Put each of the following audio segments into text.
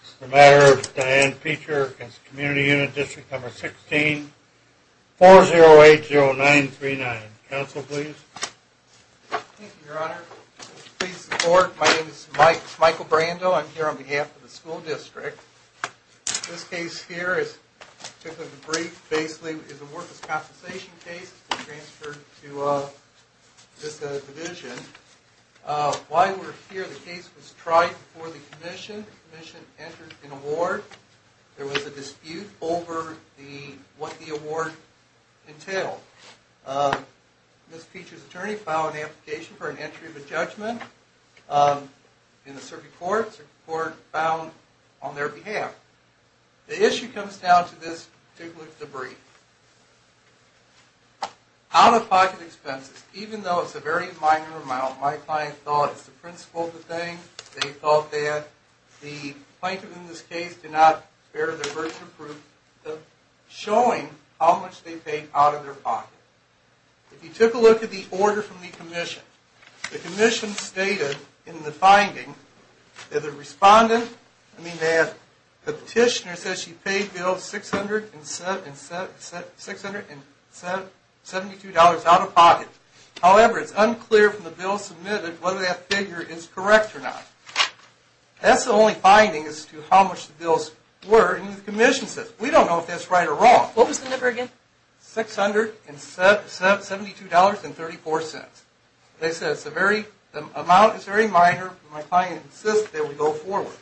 This is a matter of Dianne Peecher v. Community Unit District No. 16, 4080939. Counsel, please. Thank you, Your Honor. Please support. My name is Michael Brando. I'm here on behalf of the school district. This case here is typically brief. Basically, it's a worthless compensation case. It's been transferred to this division. While we're here, the case was tried before the commission. The commission entered an award. There was a dispute over what the award entailed. Ms. Peecher's attorney filed an application for an entry of a judgment in the circuit court. Circuit court found on their behalf. The issue comes down to this particular debrief. Out-of-pocket expenses. Even though it's a very minor amount, my client thought it's the principle of the thing. They thought that the plaintiff in this case did not bear the burden of proof of showing how much they paid out of their pocket. If you took a look at the order from the commission, the commission stated in the finding that the respondent, the petitioner said she paid $672 out of pocket. However, it's unclear from the bill submitted whether that figure is correct or not. That's the only finding as to how much the bills were in the commission's system. We don't know if that's right or wrong. What was the number again? $672.34. As I said, the amount is very minor, but my client insists that we go forward.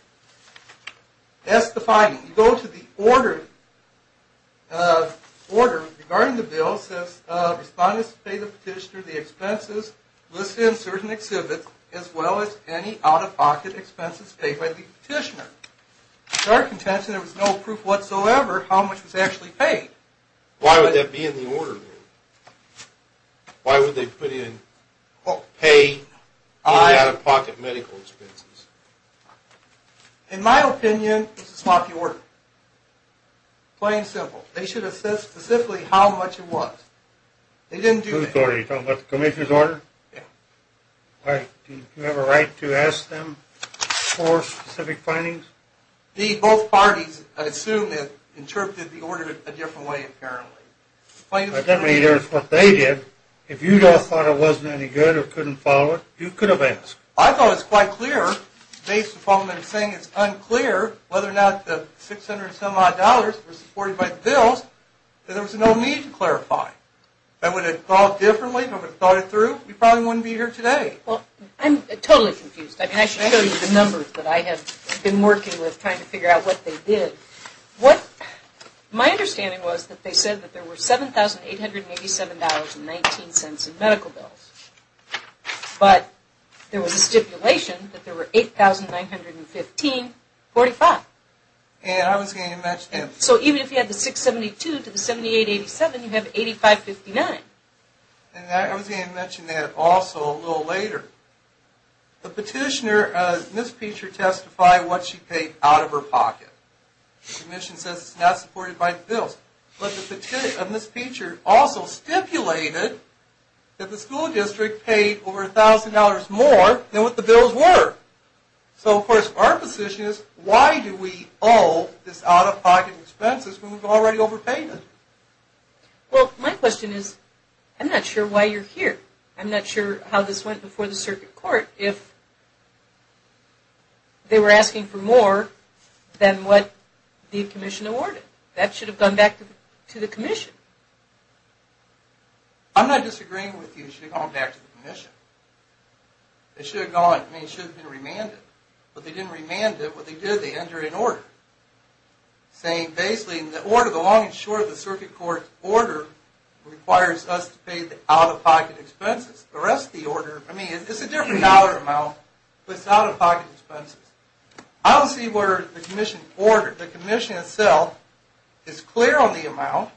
That's the finding. You go to the order regarding the bill. It says, Respondents paid the petitioner the expenses listed in certain exhibits as well as any out-of-pocket expenses paid by the petitioner. To our contention, there was no proof whatsoever how much was actually paid. Why would that be in the order? Why would they put in pay and out-of-pocket medical expenses? In my opinion, it's a sloppy order. Plain and simple. They should have said specifically how much it was. You're talking about the commission's order? Do you have a right to ask them for specific findings? Both parties, I assume, have interpreted the order a different way apparently. That doesn't mean it's what they did. If you thought it wasn't any good or couldn't follow it, you could have asked. I thought it was quite clear, based upon them saying it's unclear whether or not the $600 and some odd dollars were supported by the bills, that there was no need to clarify. If I would have thought differently, if I would have thought it through, we probably wouldn't be here today. I'm totally confused. I should show you the numbers that I have been working with trying to figure out what they did. My understanding was that they said there were $7,887.19 in medical bills. But there was a stipulation that there were $8,915.45. So even if you had the $672 to the $78.87, you have $85.59. I was going to mention that also a little later. The petitioner, Ms. Peacher, testified what she paid out of her pocket. The commission says it's not supported by the bills. But Ms. Peacher also stipulated that the school district paid over $1,000 more than what the bills were. So of course, our position is, why do we owe this out-of-pocket expenses when we've already overpaid it? Well, my question is, I'm not sure why you're here. I'm not sure how this went before the circuit court if they were asking for more than what the commission awarded. That should have gone back to the commission. I'm not disagreeing with you. It should have gone back to the commission. It should have been remanded. But they didn't remand it. What they did, they entered an order. Saying, basically, the order, the long and short of the circuit court's order requires us to pay the out-of-pocket expenses. The rest of the order, I mean, it's a different dollar amount, but it's out-of-pocket expenses. I don't see where the commission ordered. The commission itself is clear on the amount,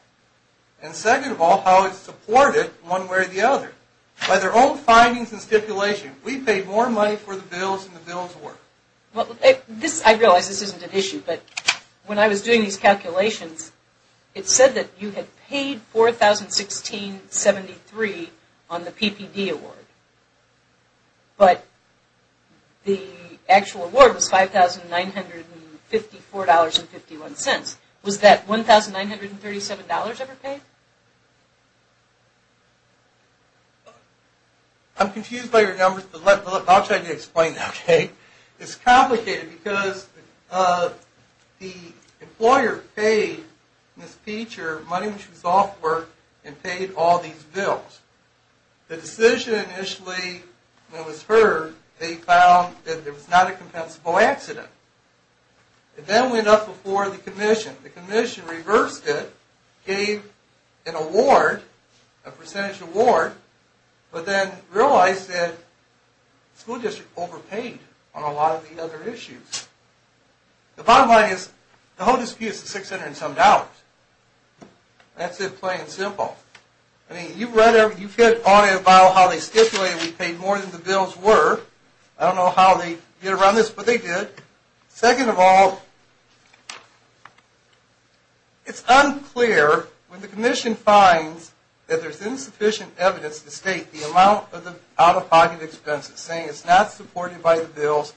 and second of all, how it's supported one way or the other. By their own findings and stipulation, we paid more money for the bills than the bills were. I realize this isn't an issue, but when I was doing these calculations, it said that you had paid $4,016.73 on the PPD award. But the actual award was $5,954.51. Was that $1,937 ever paid? I'm confused by your numbers, but I'll try to explain that. It's complicated because the employer paid Ms. Peacher money when she was off work and paid all these bills. The decision initially, when it was heard, they found that it was not a compensable accident. It then went up before the commission. The commission reversed it, gave an award, a percentage award, but then realized that the school district overpaid on a lot of the other issues. The bottom line is, the whole dispute is the $670. That's it, plain and simple. I mean, you've read, you've heard all about how they stipulated we paid more than the bills were. I don't know how they get around this, but they did. Second of all, it's unclear when the commission finds that there's insufficient evidence to state the amount of out-of-pocket expenses. Saying it's not supported by the bills.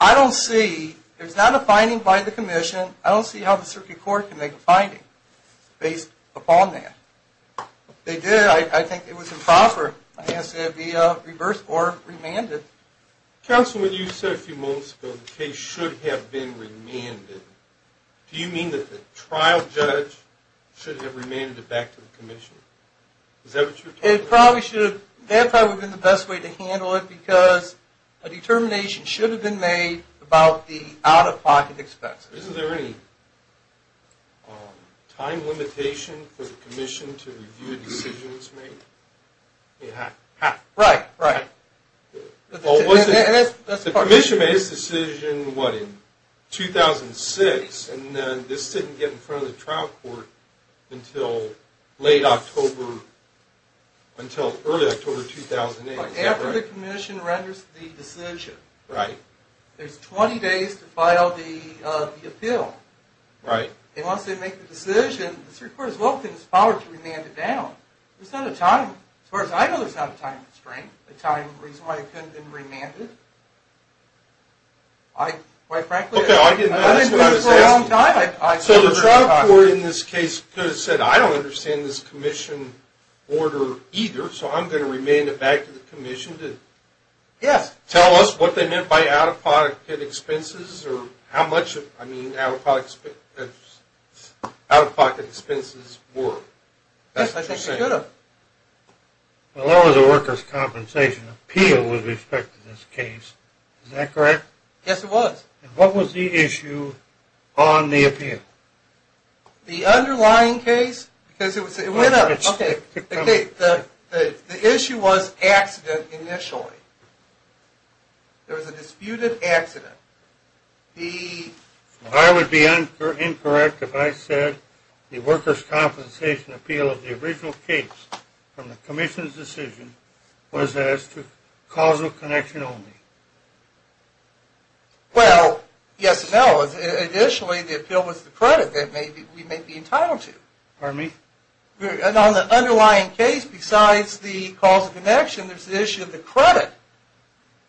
I don't see, there's not a finding by the commission. I don't see how the circuit court can make a finding based upon that. If they did, I think it was improper. It has to be reversed or remanded. Counsel, when you said a few moments ago the case should have been remanded, do you mean that the trial judge should have remanded it back to the commission? Is that what you're talking about? That probably would have been the best way to handle it, because a determination should have been made about the out-of-pocket expenses. Isn't there any time limitation for the commission to review a decision that's made? Right, right. The commission made its decision, what, in 2006? And this didn't get in front of the trial court until late October, until early October 2008. After the commission renders the decision. There's 20 days to file the appeal. And once they make the decision, the circuit court as well can just file it to remand it down. There's not a time constraint. There's not a time reason why it couldn't have been remanded. Quite frankly, I haven't heard it for a long time. So the trial court in this case could have said, I don't understand this commission order either, so I'm going to remand it back to the commission to tell us what they meant by out-of-pocket expenses or how much, I mean, out-of-pocket expenses were. Yes, I think they could have. Well, that was a workers' compensation appeal with respect to this case. Is that correct? Yes, it was. And what was the issue on the appeal? The underlying case, because it went up, okay. The issue was accident initially. There was a disputed accident. I would be incorrect if I said the workers' compensation appeal of the original case from the commission's decision was as to causal connection only. Well, yes and no. Initially, the appeal was the credit that we may be entitled to. Pardon me? And on the underlying case, besides the causal connection, there's the issue of the credit.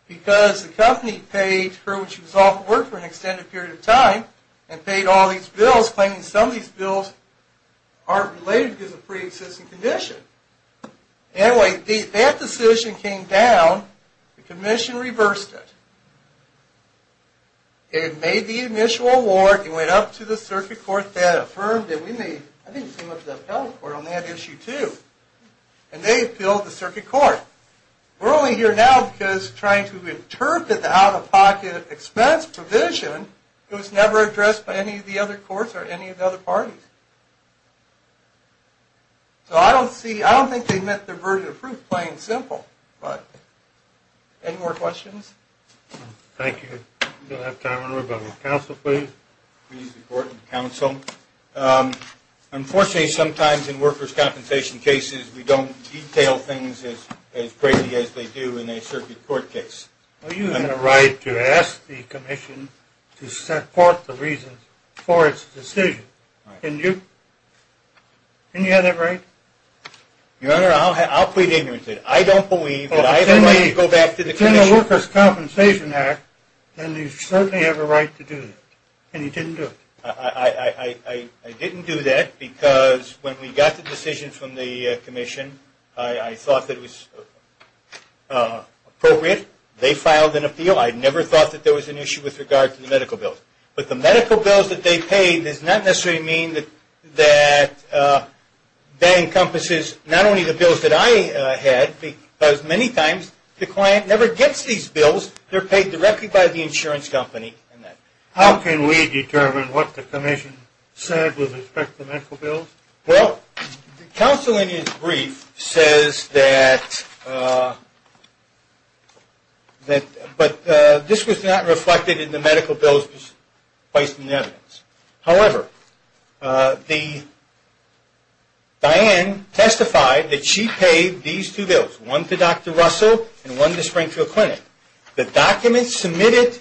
Because the company paid for which was off work for an extended period of time and paid all these bills, claiming some of these bills aren't related because of pre-existing condition. Anyway, that decision came down. The commission reversed it. It made the initial award. It went up to the circuit court that affirmed it. I didn't see much of the appellate court on that issue, too. And they appealed the circuit court. We're only here now because trying to interpret the out-of-pocket expense provision was never addressed by any of the other courts or any of the other parties. So I don't think they met their verdict of proof plain and simple. Any more questions? Thank you. We don't have time, everybody. Counsel, please. Please, the court and counsel. Unfortunately, sometimes in workers' compensation cases, we don't detail things as greatly as they do in a circuit court case. Well, you have a right to ask the commission to support the reason for its decision. Can you? Can you have that right? Your Honor, I'll plead ignorant. I don't believe that I have a right to go back to the commission. In the Workers' Compensation Act, then you certainly have a right to do that. And you didn't do it. I didn't do that because when we got the decision from the commission, I thought that it was appropriate. They filed an appeal. I never thought that there was an issue with regard to the medical bills. But the medical bills that they paid does not necessarily mean that that encompasses not only the bills that I had, but as many times, the client never gets these bills. They're paid directly by the insurance company. How can we determine what the commission said with respect to the medical bills? Well, counsel in his brief says that this was not reflected in the medical bills by some evidence. However, Diane testified that she paid these two bills. One to Dr. Russell and one to Springfield Clinic. The documents submitted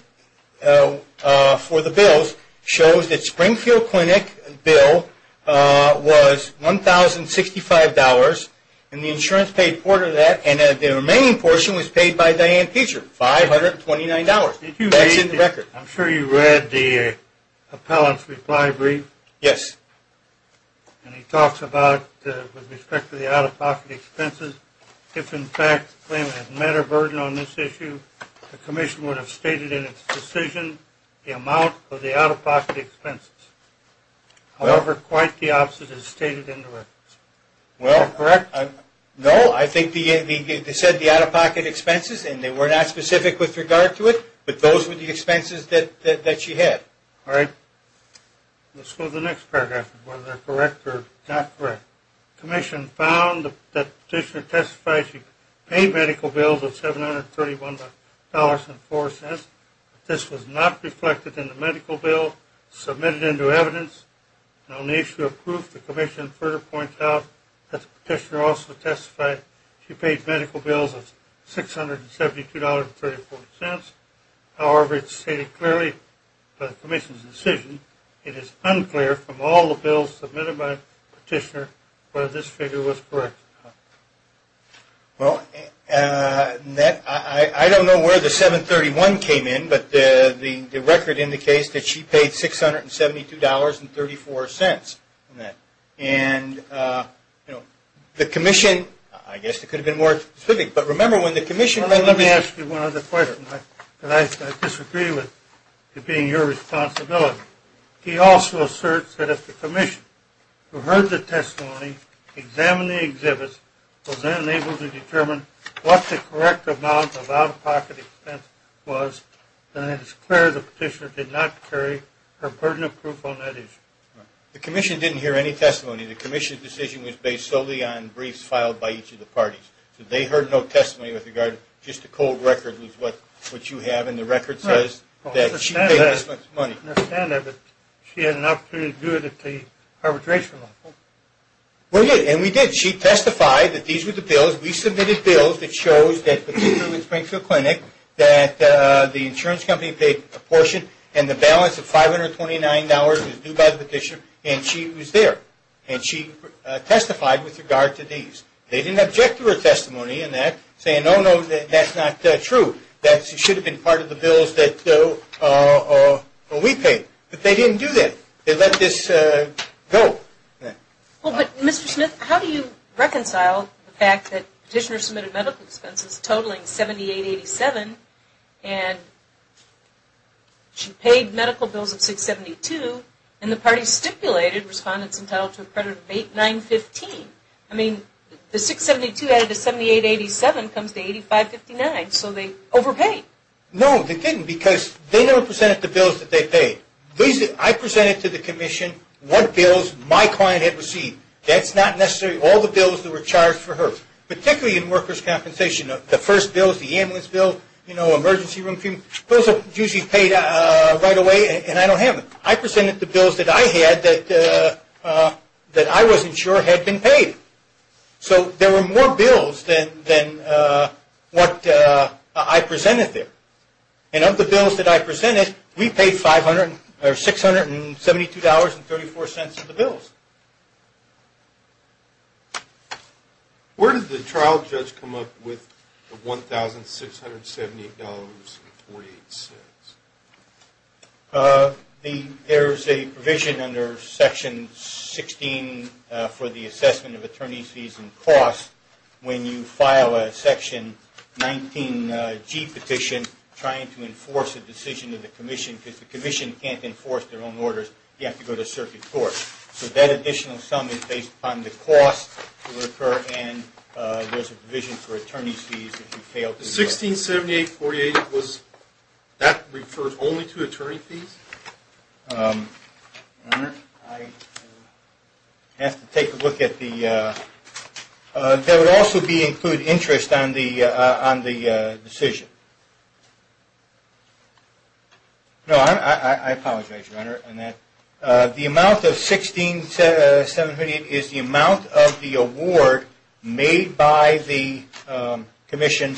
for the bills shows that Springfield Clinic bill was $1,065. And the insurance paid a quarter of that. And the remaining portion was paid by Diane Teacher, $529. That's in the record. I'm sure you read the appellant's reply brief. Yes. And he talks about, with respect to the out-of-pocket expenses, if in fact the claimant had met a burden on this issue, the commission would have stated in its decision the amount of the out-of-pocket expenses. However, quite the opposite is stated in the records. Well, correct. No, I think they said the out-of-pocket expenses, and they were not specific with regard to it. But those were the expenses that she had. All right. Let's go to the next paragraph, whether they're correct or not correct. The commission found that the petitioner testified she paid medical bills of $731.04. This was not reflected in the medical bill submitted into evidence. On the issue of proof, the commission further points out that the petitioner also testified she paid medical bills of $672.34. However, it's stated clearly by the commission's decision, it is unclear from all the bills submitted by the petitioner whether this figure was correct or not. Well, I don't know where the 731 came in, but the record indicates that she paid $672.34. And the commission, I guess it could have been more specific, but remember when the commission... Let me ask you one other question. I disagree with it being your responsibility. He also asserts that if the commission who heard the testimony, examined the exhibits, was unable to determine what the correct amount of out-of-pocket expense was, then it is clear the petitioner did not carry her burden of proof on that issue. The commission didn't hear any testimony. The commission's decision was based solely on briefs filed by each of the parties. They heard no testimony with regard to just the cold record, which is what you have, and the record says that she paid this much money. I understand that, but she had an opportunity to do it at the arbitration level. Well, yeah, and we did. She testified that these were the bills. We submitted bills that shows that the petitioner in Springfield Clinic, that the insurance company paid a portion, and the balance of $529 was due by the petitioner, and she was there. And she testified with regard to these. They didn't object to her testimony in that, saying, oh, no, that's not true. That should have been part of the bills that we paid. But they didn't do that. They let this go. Well, but, Mr. Smith, how do you reconcile the fact that the petitioner submitted medical expenses totaling $78.87, and she paid medical bills of $672, and the parties stipulated respondents entitled to a credit of $89.15? I mean, the $672 added to $78.87 comes to $85.59, so they overpaid. No, they didn't, because they never presented the bills that they paid. I presented to the commission what bills my client had received. That's not necessarily all the bills that were charged for her, particularly in workers' compensation. The first bills, the ambulance bill, you know, emergency room fee, those are usually paid right away, and I don't have them. I presented the bills that I had that I wasn't sure had been paid. So there were more bills than what I presented there. And of the bills that I presented, we paid $672.34 of the bills. Where did the trial judge come up with the $1,678.48? There's a provision under Section 16 for the assessment of attorney's fees and costs when you file a Section 19G petition trying to enforce a decision of the commission, because the commission can't enforce their own orders, you have to go to circuit court. So that additional sum is based upon the cost to occur, and there's a provision for attorney's fees if you fail to do so. The $1,678.48, that refers only to attorney fees? Your Honor, I have to take a look at the – that would also include interest on the decision. No, I apologize, Your Honor. The amount of $1,678.48 is the amount of the award made by the commission,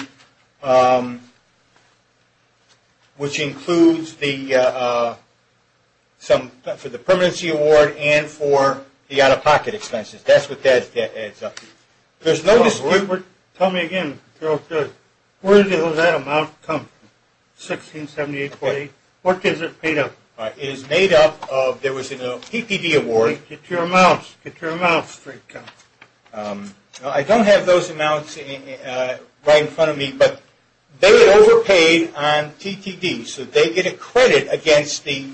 which includes the – for the permanency award and for the out-of-pocket expenses. That's what that adds up to. Tell me again, where did that amount come from, $1,678.48? What is it made of? It is made up of – there was a PPD award. Get your amounts, get your amounts straight. I don't have those amounts right in front of me, but they overpaid on TTD, so they get a credit against the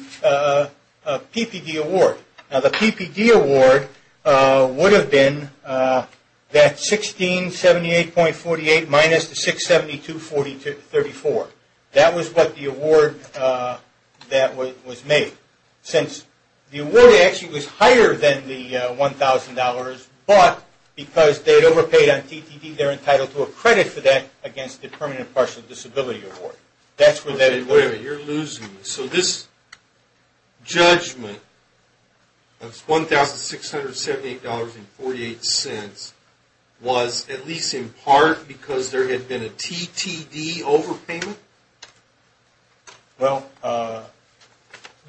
PPD award. Now, the PPD award would have been that $1,678.48 minus the $672.34. That was what the award that was made. Since the award actually was higher than the $1,000, but because they overpaid on TTD, they're entitled to a credit for that against the permanent partial disability award. That's where that – Wait a minute, you're losing me. So this judgment of $1,678.48 was at least in part because there had been a TTD overpayment? Well,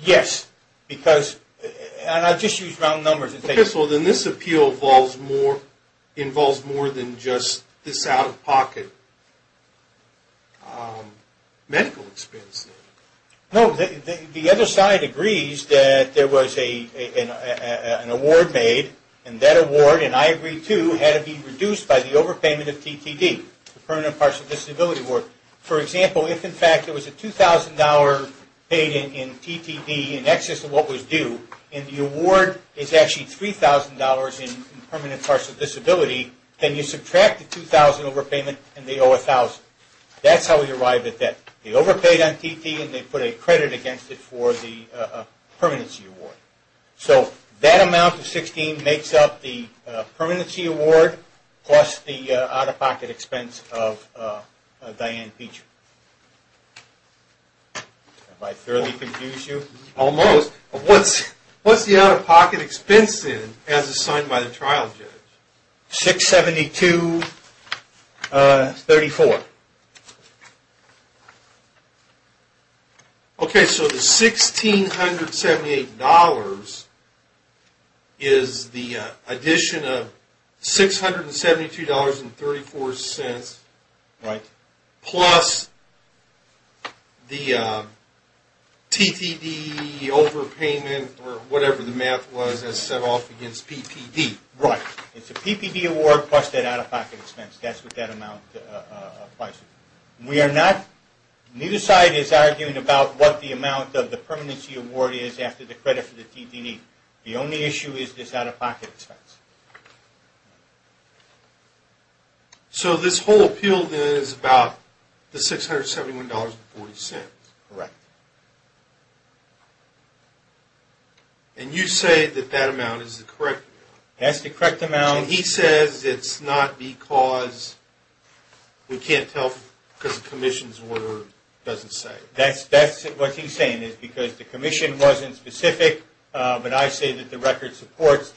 yes, because – and I'll just use round numbers. Okay, so then this appeal involves more than just this out-of-pocket medical expense? No, the other side agrees that there was an award made, and that award, and I agree too, had to be reduced by the overpayment of TTD, the permanent partial disability award. For example, if in fact it was a $2,000 payment in TTD in excess of what was due, and the award is actually $3,000 in permanent partial disability, then you subtract the $2,000 overpayment, and they owe $1,000. That's how we arrive at that. They overpaid on TTD, and they put a credit against it for the permanency award. So that amount of $1,600 makes up the permanency award plus the out-of-pocket expense of Diane Feecher. Have I thoroughly confused you? Almost. What's the out-of-pocket expense then as assigned by the trial judge? $672.34. Okay. So the $1,678 is the addition of $672.34 plus the TTD overpayment, or whatever the math was, as set off against PPD. Right. It's a PPD award plus that out-of-pocket expense. That's what that amount applies to. Neither side is arguing about what the amount of the permanency award is after the credit for the TTD. The only issue is this out-of-pocket expense. So this whole appeal then is about the $671.40. Correct. And you say that that amount is the correct amount. That's the correct amount. He says it's not because we can't tell because the commission's order doesn't say. That's what he's saying is because the commission wasn't specific, but I say that the record supports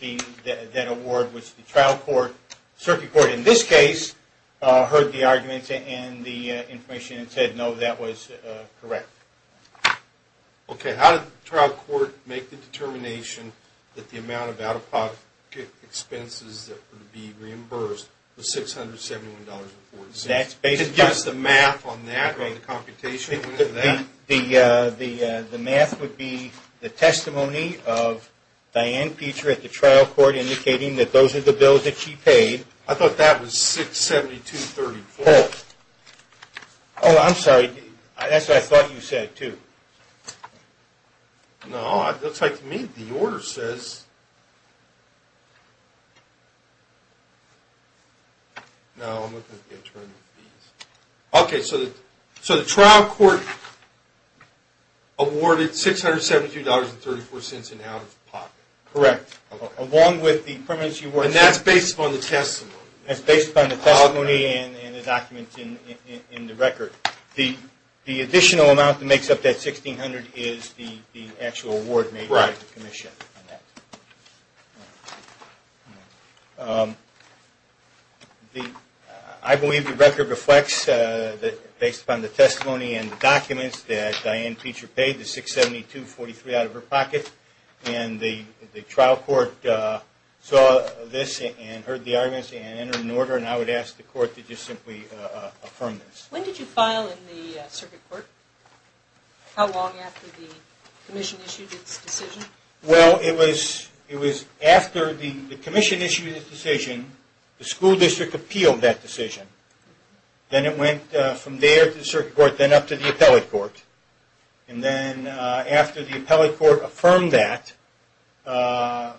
that award, which the trial court, circuit court in this case, heard the arguments and the information and said, no, that was correct. Okay. How did the trial court make the determination that the amount of out-of-pocket expenses that would be reimbursed was $671.40? Could you give us the math on that, on the computation of that? The math would be the testimony of Diane Peter at the trial court indicating that those are the bills that she paid. I thought that was 672.34. Oh, I'm sorry. That's what I thought you said, too. No, it looks like to me the order says. No, I'm looking at the attorney fees. Okay, so the trial court awarded $672.34 in out-of-pocket. Correct, along with the permanency award. And that's based upon the testimony. That's based upon the testimony and the documents in the record. The additional amount that makes up that $1,600 is the actual award made by the commission. I believe the record reflects that based upon the testimony and documents that Diane Peter paid, the 672.43 out-of-her-pocket, and the trial court saw this and heard the arguments and entered an order, and I would ask the court to just simply affirm this. When did you file in the circuit court? How long after the commission issued its decision? Well, it was after the commission issued its decision, the school district appealed that decision. Then it went from there to the circuit court, then up to the appellate court. And then after the appellate court affirmed that, I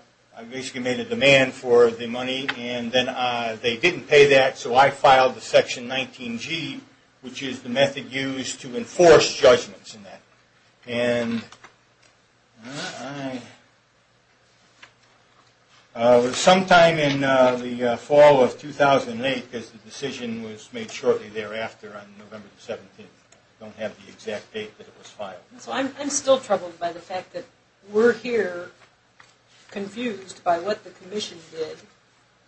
basically made a demand for the money, and then they didn't pay that, so I filed the Section 19G, which is the method used to enforce judgments. It was sometime in the fall of 2008 because the decision was made shortly thereafter on November 17th. I don't have the exact date that it was filed. So I'm still troubled by the fact that we're here confused by what the commission did,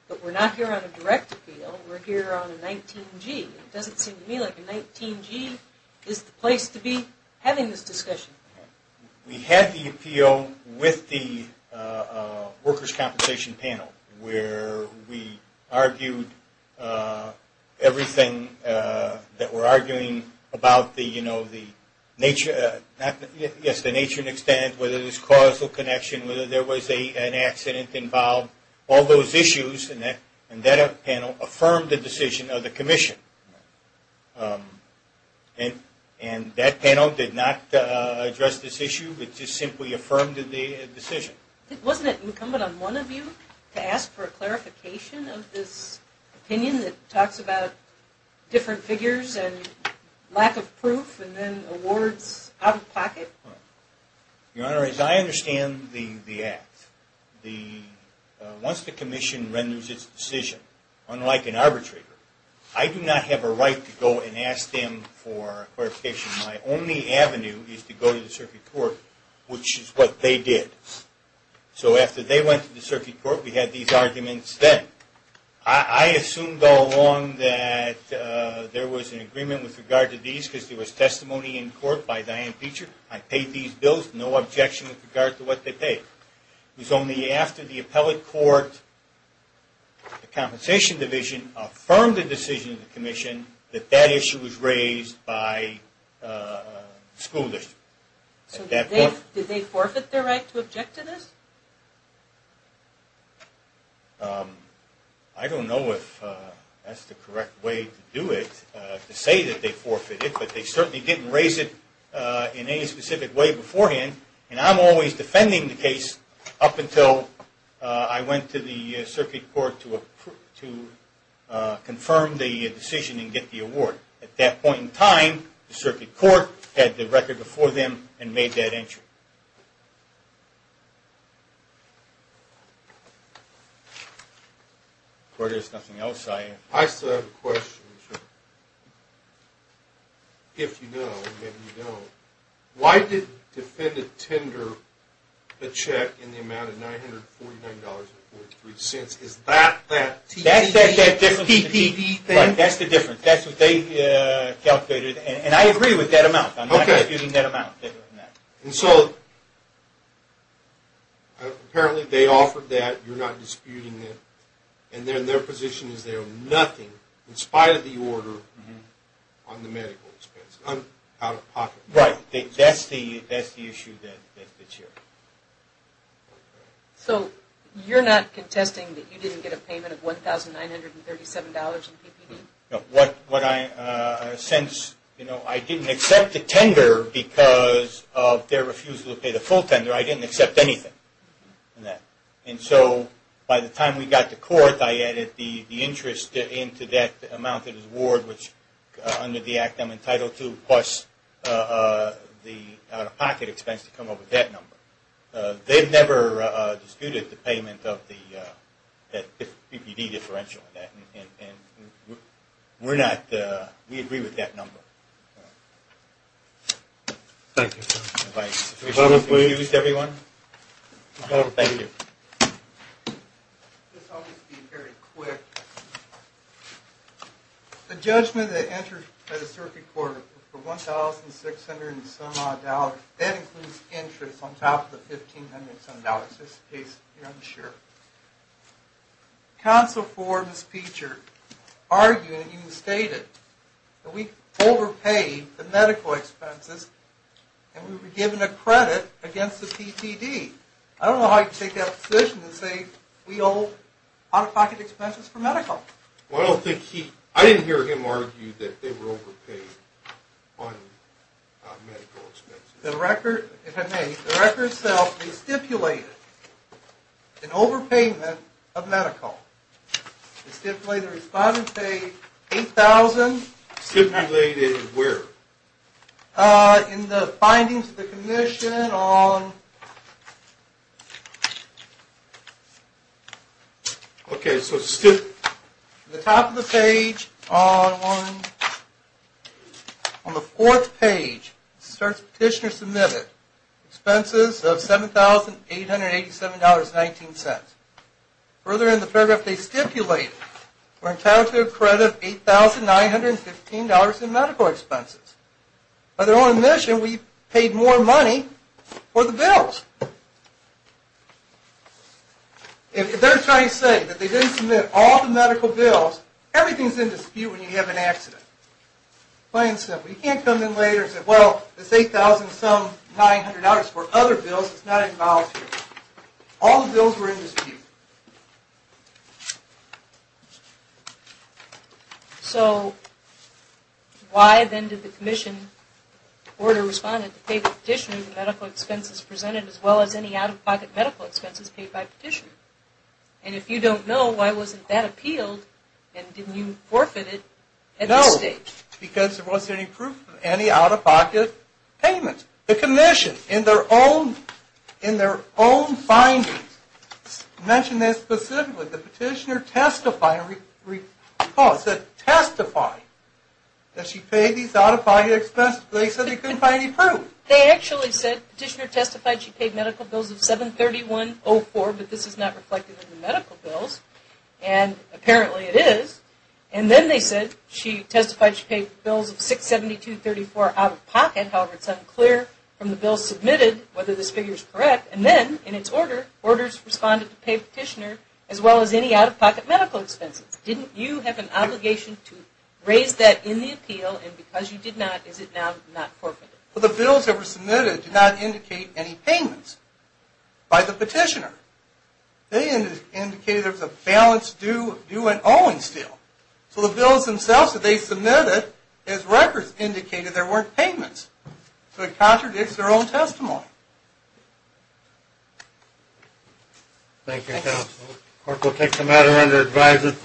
but we're not here on a direct appeal. We're here on a 19G. It doesn't seem to me like a 19G is the place to be having this discussion. We had the appeal with the workers' compensation panel, where we argued everything that we're arguing about the nature and extent, whether there's causal connection, whether there was an accident involved. All those issues in that panel affirmed the decision of the commission. And that panel did not address this issue. It just simply affirmed the decision. Wasn't it incumbent on one of you to ask for a clarification of this opinion that talks about different figures and lack of proof and then awards out of pocket? Your Honor, as I understand the act, once the commission renders its decision, unlike an arbitrator, I do not have a right to go and ask them for clarification. My only avenue is to go to the circuit court, which is what they did. So after they went to the circuit court, we had these arguments then. I assumed all along that there was an agreement with regard to these, because there was testimony in court by Diane Feecher. I paid these bills, no objection with regard to what they paid. It was only after the appellate court, the compensation division, affirmed the decision of the commission that that issue was raised by the school district. So did they forfeit their right to object to this? I don't know if that's the correct way to do it, to say that they forfeited, but they certainly didn't raise it in any specific way beforehand. And I'm always defending the case up until I went to the circuit court to confirm the decision and get the award. At that point in time, the circuit court had the record before them and made that entry. If there's nothing else, I... I still have a question. If you know, then you know. Why did Defendant tender a check in the amount of $949.43? Is that the TPP thing? That's the difference. That's what they calculated. And I agree with that amount. I'm not disputing that amount. And so, apparently they offered that. You're not disputing that. And then their position is they owe nothing, in spite of the order, on the medical expense, out-of-pocket. Right. That's the issue that's here. So, you're not contesting that you didn't get a payment of $1,937 in TPP? No. Since I didn't accept the tender because of their refusal to pay the full tender, I didn't accept anything in that. And so, by the time we got to court, I added the interest into that amount of the award, which, under the act, I'm entitled to, plus the out-of-pocket expense to come up with that number. They've never disputed the payment of the TPP differential. We're not. We agree with that number. Thank you. Excuse everyone. Thank you. I'll just be very quick. The judgment that entered the circuit court for $1,600 and some-odd, that includes interest on top of the $1,500 and some-odd, just in case you're unsure. Counsel for Ms. Peacher argued, and you stated, that we overpaid the medical expenses and we were given a credit against the PTD. I don't know how you can take that position and say we owe out-of-pocket expenses for medical. I didn't hear him argue that they were overpaid on medical expenses. If I may, the record itself stipulated an overpayment of medical. The stipulated respondent paid $8,000. Stipulated where? In the findings of the commission on the top of the page. On the fourth page, the petitioner submitted expenses of $7,887.19. Further in the paragraph, they stipulated we're entitled to a credit of $8,915 in medical expenses. By their own admission, we paid more money for the bills. If they're trying to say that they didn't submit all the medical bills, everything's in dispute when you have an accident. Plain and simple. You can't come in later and say, well, it's $8,000-some-900 for other bills. It's not involuntary. All the bills were in dispute. So why then did the commission order the respondent to pay the petitioner the medical expenses presented as well as any out-of-pocket medical expenses paid by the petitioner? And if you don't know, why wasn't that appealed and didn't you forfeit it at this stage? No, because there wasn't any proof of any out-of-pocket payment. The commission, in their own findings, mentioned that specifically. The petitioner testified that she paid these out-of-pocket expenses, but they said they couldn't find any proof. They actually said the petitioner testified she paid medical bills of $7,3104, but this is not reflected in the medical bills, and apparently it is. And then they said she testified she paid bills of $672.34 out-of-pocket. However, it's unclear from the bills submitted whether this figure is correct. And then, in its order, orders responded to pay the petitioner as well as any out-of-pocket medical expenses. Didn't you have an obligation to raise that in the appeal? And because you did not, is it now not forfeited? Well, the bills that were submitted did not indicate any payments by the petitioner. They indicated there was a balance due and owing still. So the bills themselves that they submitted, as records indicated, there weren't payments. So it contradicts their own testimony. Thank you, counsel. The court will take the matter under advisement.